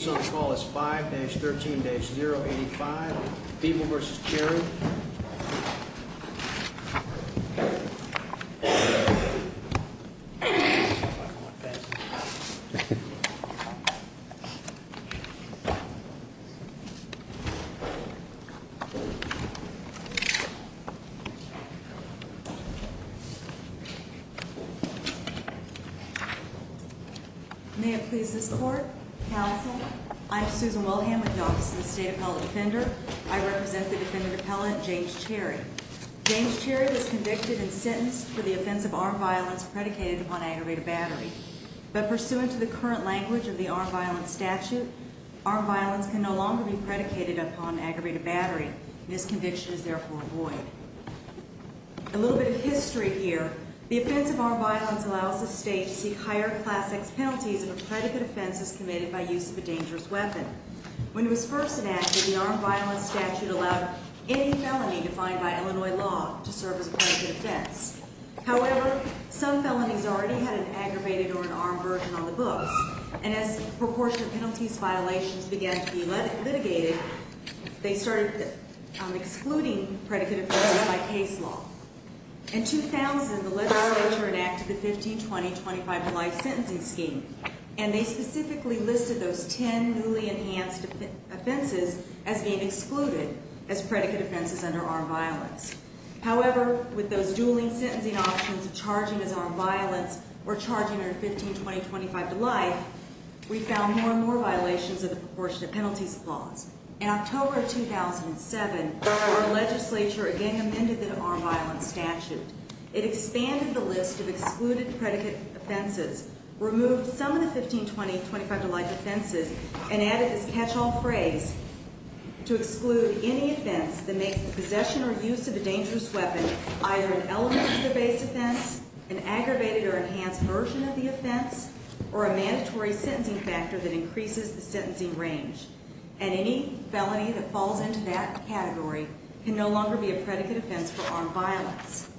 is on the call is 5-13-085 Feeble v. Cherry. May it please this court, counsel, I'm Susan Wilhelm with the Office of the State Appellate Defender. I represent the defendant appellant, James Cherry. James Cherry was convicted and sentenced for the offense of armed violence predicated upon aggravated battery. But pursuant to the current language of the armed violence statute, armed violence can no longer be predicated upon aggravated battery, and his conviction is therefore void. A little bit of history here, the offense of armed violence allows the state to seek higher class X penalties if a predicate offense is committed by use of a dangerous weapon. When it was first enacted, the armed violence statute allowed any felony defined by Illinois law to serve as a predicate offense. However, some felonies already had an aggravated or an armed version on the books, and as proportion of penalties violations began to be litigated, they started excluding predicate offenses by case law. In 2000, the legislature enacted the 15-20-25-to-life sentencing scheme, and they specifically listed those 10 newly enhanced offenses as being excluded as predicate offenses under armed violence. However, with those dueling sentencing options of charging as armed violence or charging under 15-20-25-to-life, we found more and more violations of the proportion of penalties clause. In October 2007, our legislature again amended the armed violence statute. It expanded the list of excluded predicate offenses, removed some of the 15-20-25-to-life offenses, and added this catch-all phrase to exclude any offense that makes possession or use of a dangerous weapon either an element of the base offense, an aggravated or enhanced version of the offense, or a mandatory sentencing factor that increases the sentencing range. And any felony that falls into that category can no longer be a predicate offense for armed violence.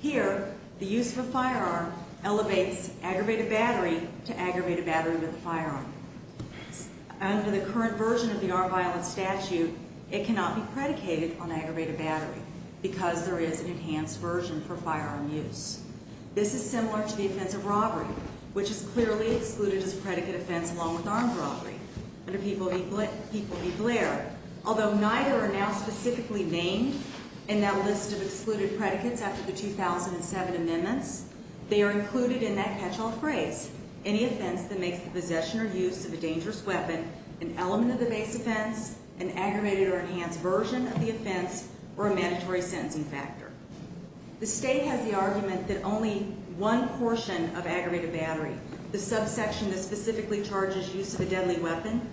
Here, the use of a firearm elevates aggravated battery to aggravated battery with a firearm. Under the current version of the armed violence statute, it cannot be predicated on aggravated battery because there is an enhanced version for firearm use. This is similar to the offense of robbery, which is clearly excluded as a predicate offense along with armed robbery under People v. Blair. Although neither are now specifically named in that list of excluded predicates after the 2007 amendments, they are included in that catch-all phrase, any offense that makes possession or use of a dangerous weapon an element of the base offense, an aggravated or enhanced version of the offense, or a mandatory sentencing factor. The state has the argument that only one portion of aggravated battery, the subsection that specifically charges use of a deadly weapon,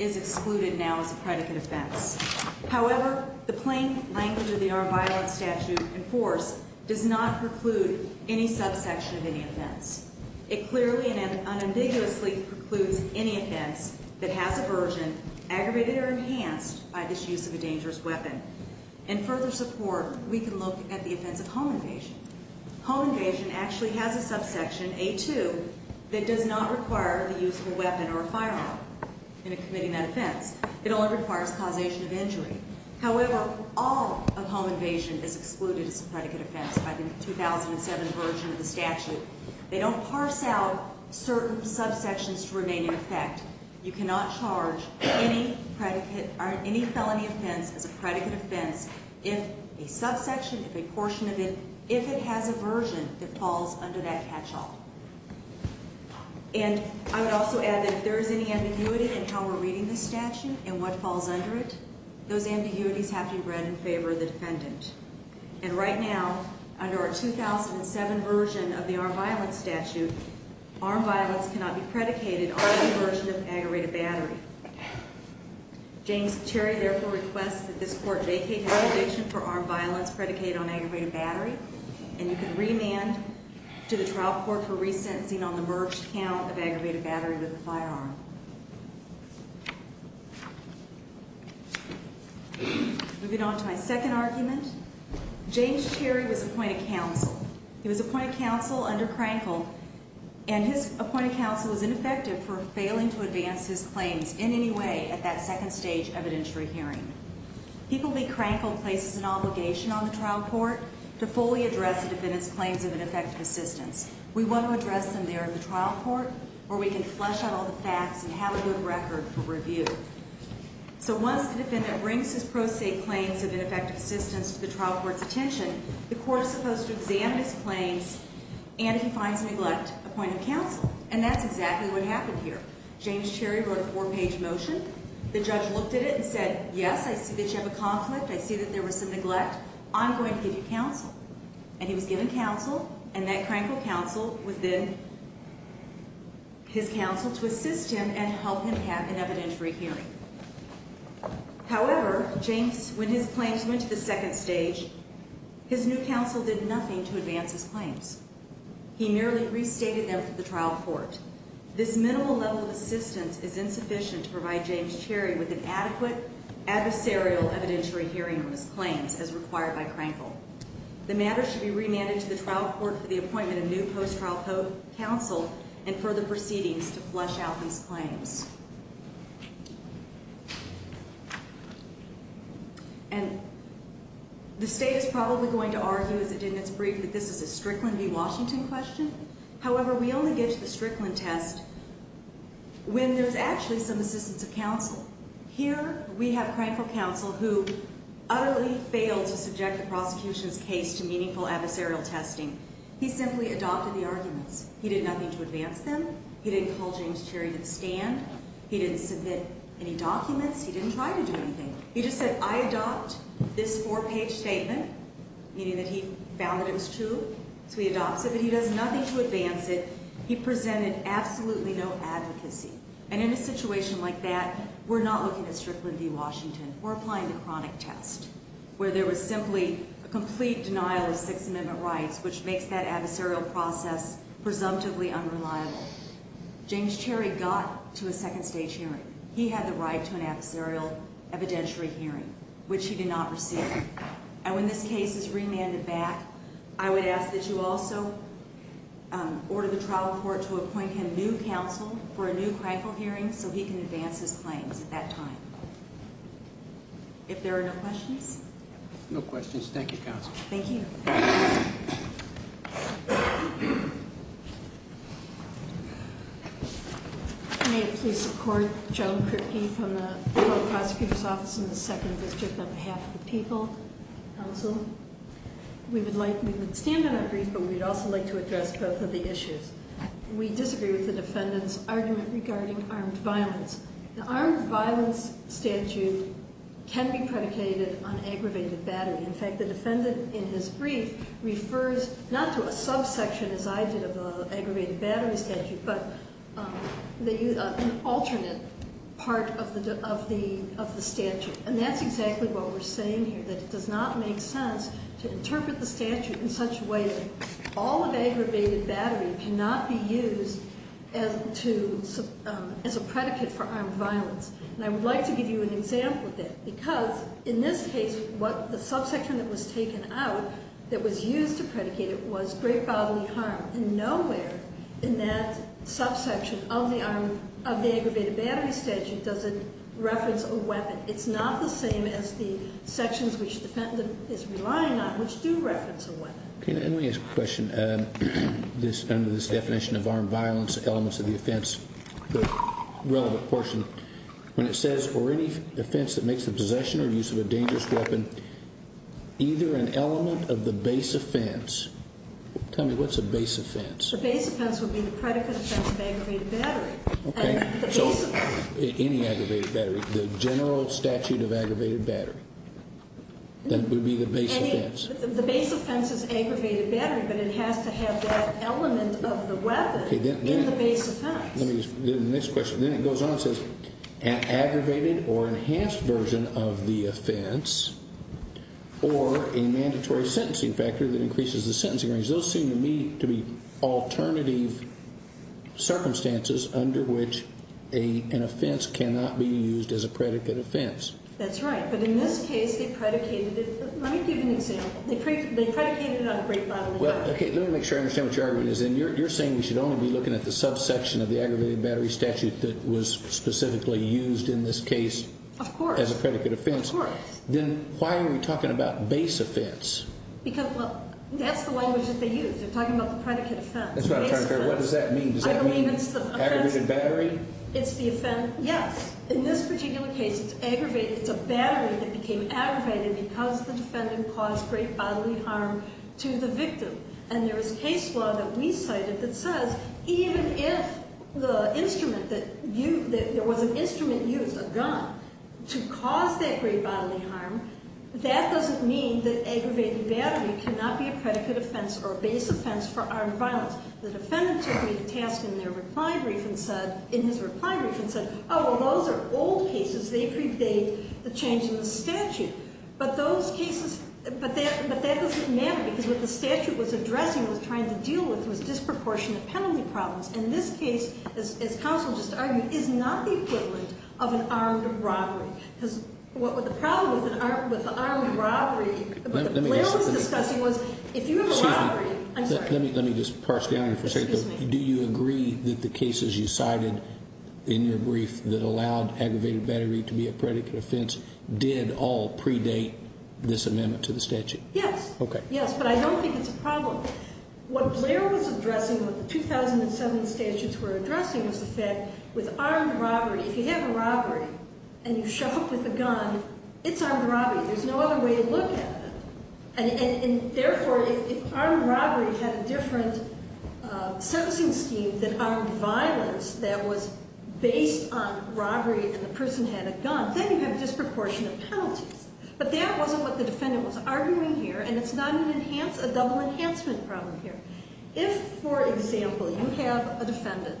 is excluded now as a predicate offense. However, the plain language of the armed violence statute in force does not preclude any subsection of any offense. It clearly and unambiguously precludes any offense that has a version, aggravated or enhanced, by this use of a dangerous weapon. In further support, we can look at the offense of home invasion. Home invasion actually has a subsection, A2, that does not require the use of a weapon or a firearm in committing that offense. It only requires causation of injury. However, all of home invasion is excluded as a predicate offense by the 2007 version of the statute. They don't parse out certain subsections to remain in effect. You cannot charge any felony offense as a predicate offense if a subsection, if a portion of it, if it has a version that falls under that catch-all. And I would also add that if there is any ambiguity in how we're reading this statute and what falls under it, those ambiguities have to be read in favor of the defendant. And right now, under our 2007 version of the armed violence statute, armed violence cannot be predicated on any version of aggravated battery. James Cherry therefore requests that this court vacate validation for armed violence predicated on aggravated battery, and you can remand to the trial court for resentencing on the merged count of aggravated battery with a firearm. Moving on to my second argument, James Cherry was appointed counsel. He was appointed counsel under Krankel, and his appointed counsel was ineffective for failing to advance his claims in any way at that second stage evidentiary hearing. People be Krankel places an obligation on the trial court to fully address the defendant's claims of ineffective assistance. We want to address them there in the trial court where we can flush out all the facts and have a good record for review. So once the defendant brings his pro se claims of ineffective assistance to the trial court's attention, the court is supposed to examine his claims, and if he finds neglect, appoint him counsel. And that's exactly what happened here. James Cherry wrote a four-page motion. The judge looked at it and said, yes, I see that you have a conflict. I see that there was some neglect. I'm going to give you counsel. And he was given counsel, and that Krankel counsel was then his counsel to assist him and help him have an evidentiary hearing. However, James, when his claims went to the second stage, his new counsel did nothing to advance his claims. He merely restated them to the trial court. This minimal level of assistance is insufficient to provide James Cherry with an adequate adversarial evidentiary hearing on his claims, as required by Krankel. The matter should be remanded to the trial court for the appointment of new post-trial counsel and further proceedings to flush out these claims. And the state is probably going to argue, as the defendants briefed, that this is a Strickland v. Washington question. However, we only get to the Strickland test when there's actually some assistance of counsel. Here we have Krankel counsel who utterly failed to subject the prosecution's case to meaningful adversarial testing. He simply adopted the arguments. He did nothing to advance them. He didn't call James Cherry to the stand. He didn't submit any documents. He didn't try to do anything. He just said, I adopt this four-page statement, meaning that he found that it was true, so he adopts it. But he does nothing to advance it. He presented absolutely no advocacy. And in a situation like that, we're not looking at Strickland v. Washington. We're looking at Krankel counsel who failed to advance his claims at a meaningful adversarial evidentiary hearing, which he did not receive. And when this case is remanded back, I would ask that you also order the trial court to appoint him new counsel for a new Krankel hearing so he can advance his claims at that time. If there are no questions? No questions. Thank you, Counsel. Thank you. May it please the court. Joan Kripke from the Prosecutor's Office in the Second District on behalf of the people. Counsel, we would like, we would stand on our grief, but we would also like to address both of the issues. We disagree with the defendant's argument regarding armed violence. The armed violence statute can be predicated on aggravated battery. In fact, the defendant in his brief refers not to a subsection, as I did, of the aggravated battery statute, but an alternate part of the statute. And that's exactly what we're saying here, that it does not make sense to interpret the statute in such a way that all of aggravated battery cannot be used as a predicate for armed violence. And I would like to give you an example of that, because in this case, the subsection that was taken out that was used to predicate it was great bodily harm. And nowhere in that subsection of the aggravated battery statute does it reference a weapon. It's not the same as the sections which the defendant is relying on, which do reference a weapon. Can I ask a question? Under this definition of armed violence, elements of the offense, the relevant portion, when it says, or any offense that makes the possession or use of a dangerous weapon, either an element of the base offense. Tell me, what's a base offense? The base offense would be the predicate offense of aggravated battery. Okay, so any aggravated battery, the general statute of aggravated battery. That would be the base offense. The base offense is aggravated battery, but it has to have that element of the weapon in the base offense. Then it goes on and says, an aggravated or enhanced version of the offense, or a mandatory sentencing factor that increases the sentencing range. Because those seem to me to be alternative circumstances under which an offense cannot be used as a predicate offense. That's right, but in this case, they predicated it. Let me make sure I understand what your argument is. You're saying we should only be looking at the subsection of the aggravated battery statute that was specifically used in this case as a predicate offense. Of course. Then why are we talking about base offense? Because that's the language that they use. They're talking about the predicate offense. What does that mean? I believe it's the offense- Aggravated battery? It's the offense, yes. In this particular case, it's aggravated. It's a battery that became aggravated because the defendant caused great bodily harm to the victim. And there is case law that we cited that says, even if there was an instrument used, a gun, to cause that great bodily harm, that doesn't mean that aggravated battery cannot be a predicate offense or a base offense for armed violence. The defendant took me to task in his reply brief and said, those are old cases, they predate the change in the statute. But those cases, but that doesn't matter, because what the statute was addressing, was trying to deal with was disproportionate penalty problems. And this case, as counsel just argued, is not the equivalent of an armed robbery. Because what the problem with the armed robbery, what the bill was discussing was, if you have a robbery- Excuse me. I'm sorry. Let me just parse down here for a second. Do you agree that the cases you cited in your brief that allowed aggravated battery to be a predicate offense did all predate this amendment to the statute? Yes. Okay. Yes, but I don't think it's a problem. What Blair was addressing, what the 2007 statutes were addressing, was the fact with armed robbery, if you have a robbery and you show up with a gun, it's armed robbery. There's no other way to look at it. And therefore, if armed robbery had a different sentencing scheme than armed violence that was based on robbery and the person had a gun, then you have disproportionate penalties. But that wasn't what the defendant was arguing here, and it's not a double enhancement problem here. If, for example, you have a defendant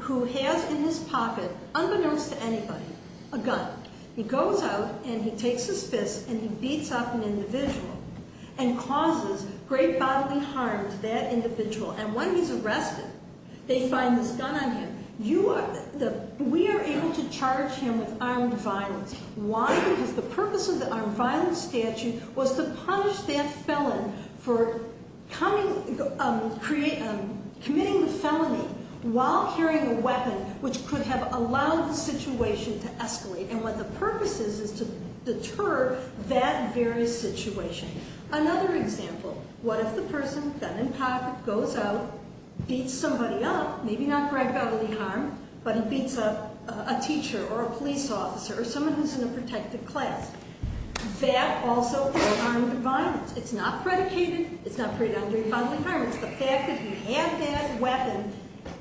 who has in his pocket, unbeknownst to anybody, a gun. He goes out and he takes his fist and he beats up an individual and causes great bodily harm to that individual. And when he's arrested, they find this gun on him. We are able to charge him with armed violence. Why? Because the purpose of the armed violence statute was to punish that felon for committing the felony while carrying a weapon, which could have allowed the situation to escalate. And what the purpose is is to deter that very situation. Another example. What if the person, gun in pocket, goes out, beats somebody up, maybe not great bodily harm, but he beats up a teacher or a police officer or someone who's in a protected class? That also is armed violence. It's not predicated, it's not predicated on great bodily harm. It's the fact that he had that weapon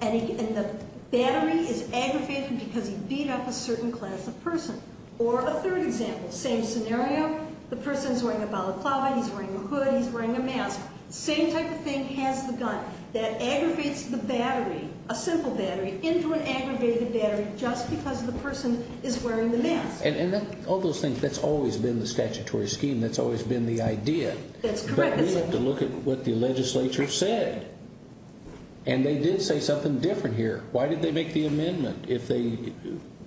and the battery is aggravated because he beat up a certain class of person. Or a third example. Same scenario. The person's wearing a balaclava, he's wearing a hood, he's wearing a mask. Same type of thing has the gun that aggravates the battery, a simple battery, into an aggravated battery just because the person is wearing the mask. And all those things, that's always been the statutory scheme. That's always been the idea. That's correct. But we have to look at what the legislature said. And they did say something different here. Why did they make the amendment?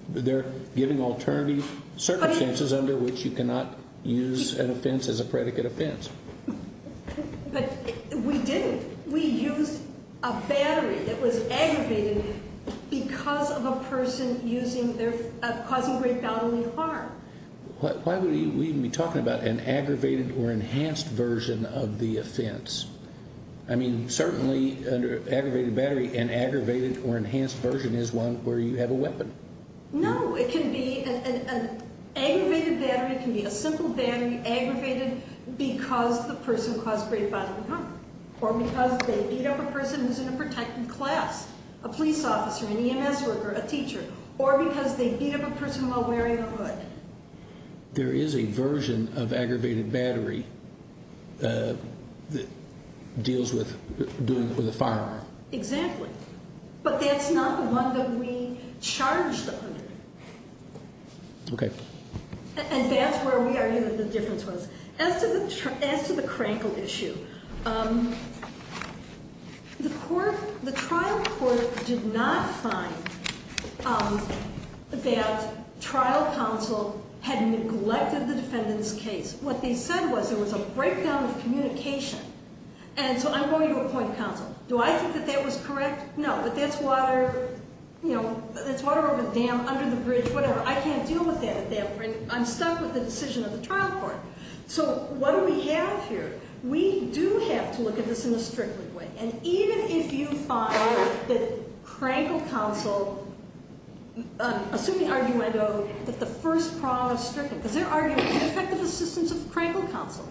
They're giving alternative circumstances under which you cannot use an offense as a predicate offense. But we didn't. We used a battery that was aggravated because of a person causing great bodily harm. Why would we even be talking about an aggravated or enhanced version of the offense? I mean, certainly under aggravated battery, an aggravated or enhanced version is one where you have a weapon. No, it can be an aggravated battery. It can be a simple battery aggravated because the person caused great bodily harm. Or because they beat up a person who's in a protected class. A police officer, an EMS worker, a teacher. There is a version of aggravated battery that deals with doing it with a firearm. Exactly. But that's not the one that we charged under. Okay. And that's where we argue that the difference was. As to the Krankel issue, the trial court did not find that trial counsel had neglected the defendant's case. What they said was there was a breakdown of communication. And so I'm going to appoint counsel. Do I think that that was correct? No, but that's water over the dam, under the bridge, whatever. I can't deal with that at that point. I'm stuck with the decision of the trial court. So what do we have here? We do have to look at this in a stricter way. And even if you find that Krankel counsel, assuming arguendo, that the first problem is stricter. Because they're arguing the defective assistance of Krankel counsel.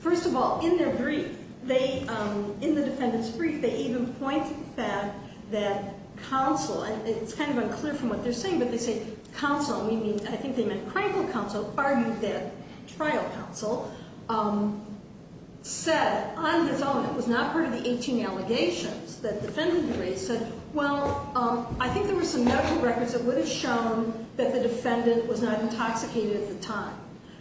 First of all, in their brief, in the defendant's brief, they even point to the fact that counsel, and it's kind of unclear from what they're saying, but they say counsel, meaning I think they meant Krankel counsel, argued that trial counsel said on its own, it was not part of the 18 allegations that the defendant had raised, said, well, I think there were some medical records that would have shown that the defendant was not intoxicated at the time.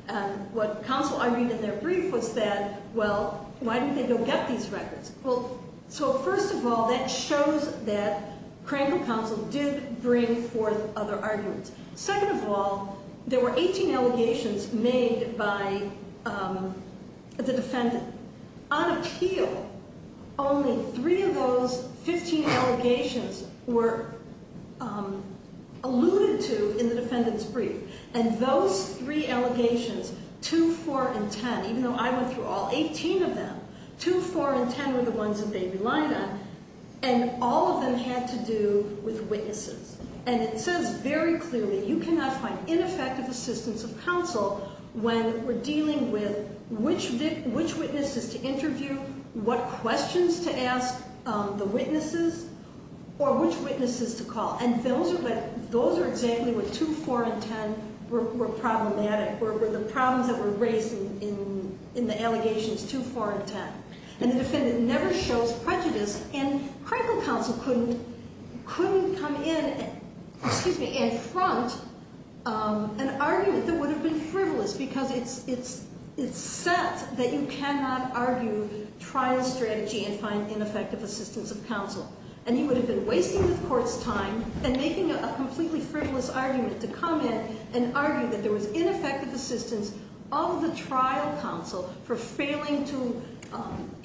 And what counsel argued in their brief was that, well, why didn't they go get these records? Well, so first of all, that shows that Krankel counsel did bring forth other arguments. Second of all, there were 18 allegations made by the defendant. On appeal, only three of those 15 allegations were alluded to in the defendant's brief. And those three allegations, 2, 4, and 10, even though I went through all 18 of them, 2, 4, and 10 were the ones that they relied on. And all of them had to do with witnesses. And it says very clearly, you cannot find ineffective assistance of counsel when we're dealing with which witnesses to interview, what questions to ask the witnesses, or which witnesses to call. And those are exactly what 2, 4, and 10 were problematic, were the problems that were raised in the allegations 2, 4, and 10. And the defendant never shows prejudice. And Krankel counsel couldn't come in, excuse me, and front an argument that would have been frivolous, because it's set that you cannot argue trial strategy and find ineffective assistance of counsel. And he would have been wasting the court's time and making a completely frivolous argument to come in and argue that there was ineffective assistance of the trial counsel for failing to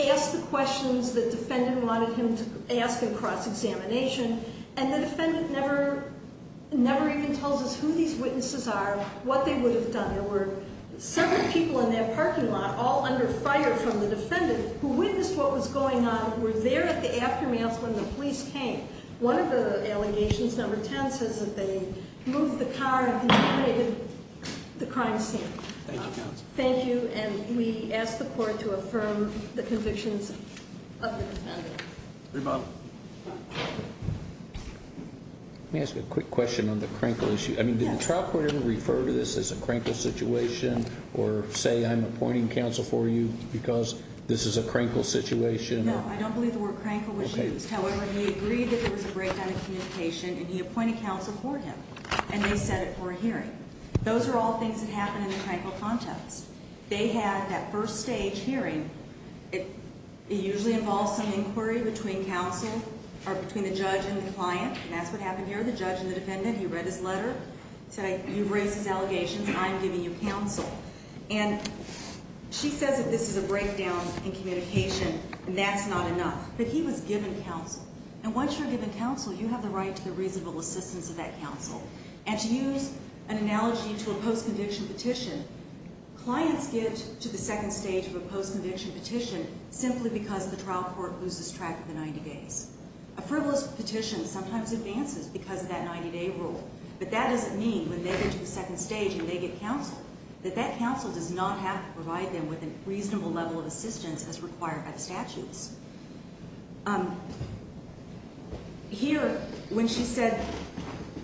ask the questions the defendant wanted him to ask in cross-examination. And the defendant never even tells us who these witnesses are, what they would have done. There were several people in that parking lot, all under fire from the defendant, who witnessed what was going on, were there at the aftermath when the police came. One of the allegations, number 10, says that they moved the car and contaminated the crime scene. Thank you, counsel. Thank you, and we ask the court to affirm the convictions of the defendant. Rebuttal. Let me ask you a quick question on the Krankel issue. I mean, did the trial court ever refer to this as a Krankel situation, or say I'm appointing counsel for you because this is a Krankel situation? No, I don't believe the word Krankel was used. However, he agreed that there was a breakdown of communication, and he appointed counsel for him. And they set it for a hearing. Those are all things that happen in the Krankel context. They had that first stage hearing. It usually involves some inquiry between counsel, or between the judge and the client. And that's what happened here. The judge and the defendant, he read his letter. He said, you've raised these allegations. I'm giving you counsel. And she says that this is a breakdown in communication, and that's not enough. But he was given counsel. And once you're given counsel, you have the right to the reasonable assistance of that counsel. And to use an analogy to a post-conviction petition, clients get to the second stage of a post-conviction petition simply because the trial court loses track of the 90 days. A frivolous petition sometimes advances because of that 90-day rule. But that doesn't mean when they get to the second stage and they get counsel, that that counsel does not have to provide them with a reasonable level of assistance as required by the statutes. Here, when she said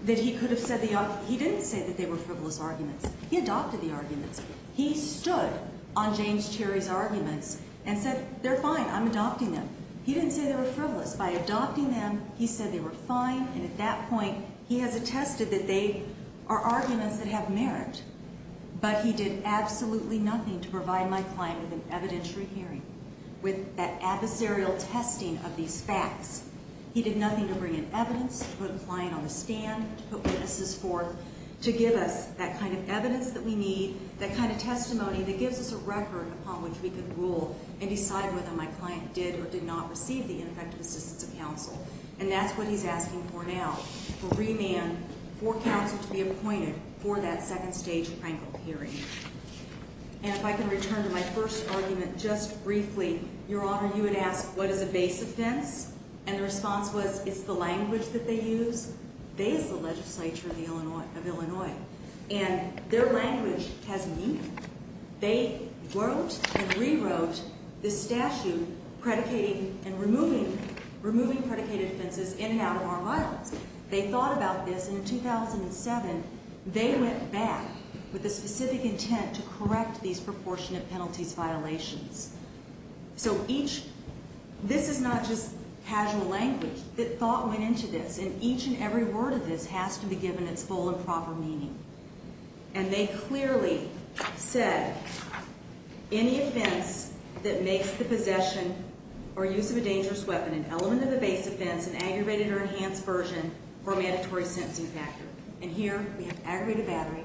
that he could have said the arguments, he didn't say that they were frivolous arguments. He adopted the arguments. He stood on James Cherry's arguments and said, they're fine. I'm adopting them. He didn't say they were frivolous. By adopting them, he said they were fine. And at that point, he has attested that they are arguments that have merit. But he did absolutely nothing to provide my client with an evidentiary hearing, with that adversarial testing of these facts. He did nothing to bring in evidence, to put a client on the stand, to put witnesses forth, to give us that kind of evidence that we need, that kind of testimony that gives us a record upon which we can rule and decide whether my client did or did not receive the ineffective assistance of counsel. And that's what he's asking for now, for remand, for counsel to be appointed for that second-stage prank call hearing. And if I can return to my first argument just briefly, Your Honor, you had asked, what is a base offense? And the response was, it's the language that they use. They is the legislature of Illinois. And their language has meaning. They wrote and rewrote the statute predicating and removing predicated offenses in and out of our files. They thought about this. And in 2007, they went back with a specific intent to correct these proportionate penalties violations. So this is not just casual language. The thought went into this. And each and every word of this has to be given its full and proper meaning. And they clearly said, any offense that makes the possession or use of a dangerous weapon, an element of a base offense, an aggravated or enhanced version, or a mandatory sentencing factor. And here we have aggravated battery.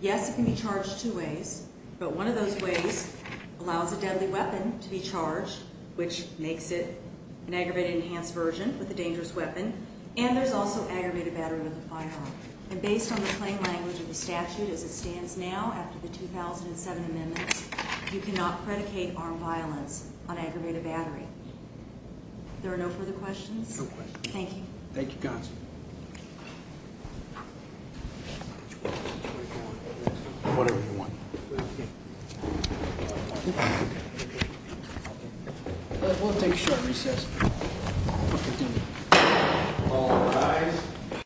Yes, it can be charged two ways. But one of those ways allows a deadly weapon to be charged, which makes it an aggravated enhanced version with a dangerous weapon. And there's also aggravated battery with a firearm. And based on the plain language of the statute as it stands now after the 2007 amendments, you cannot predicate armed violence on aggravated battery. There are no further questions? No questions. Thank you. Thank you, Constance. Whatever you want. We'll take a short recess. All rise.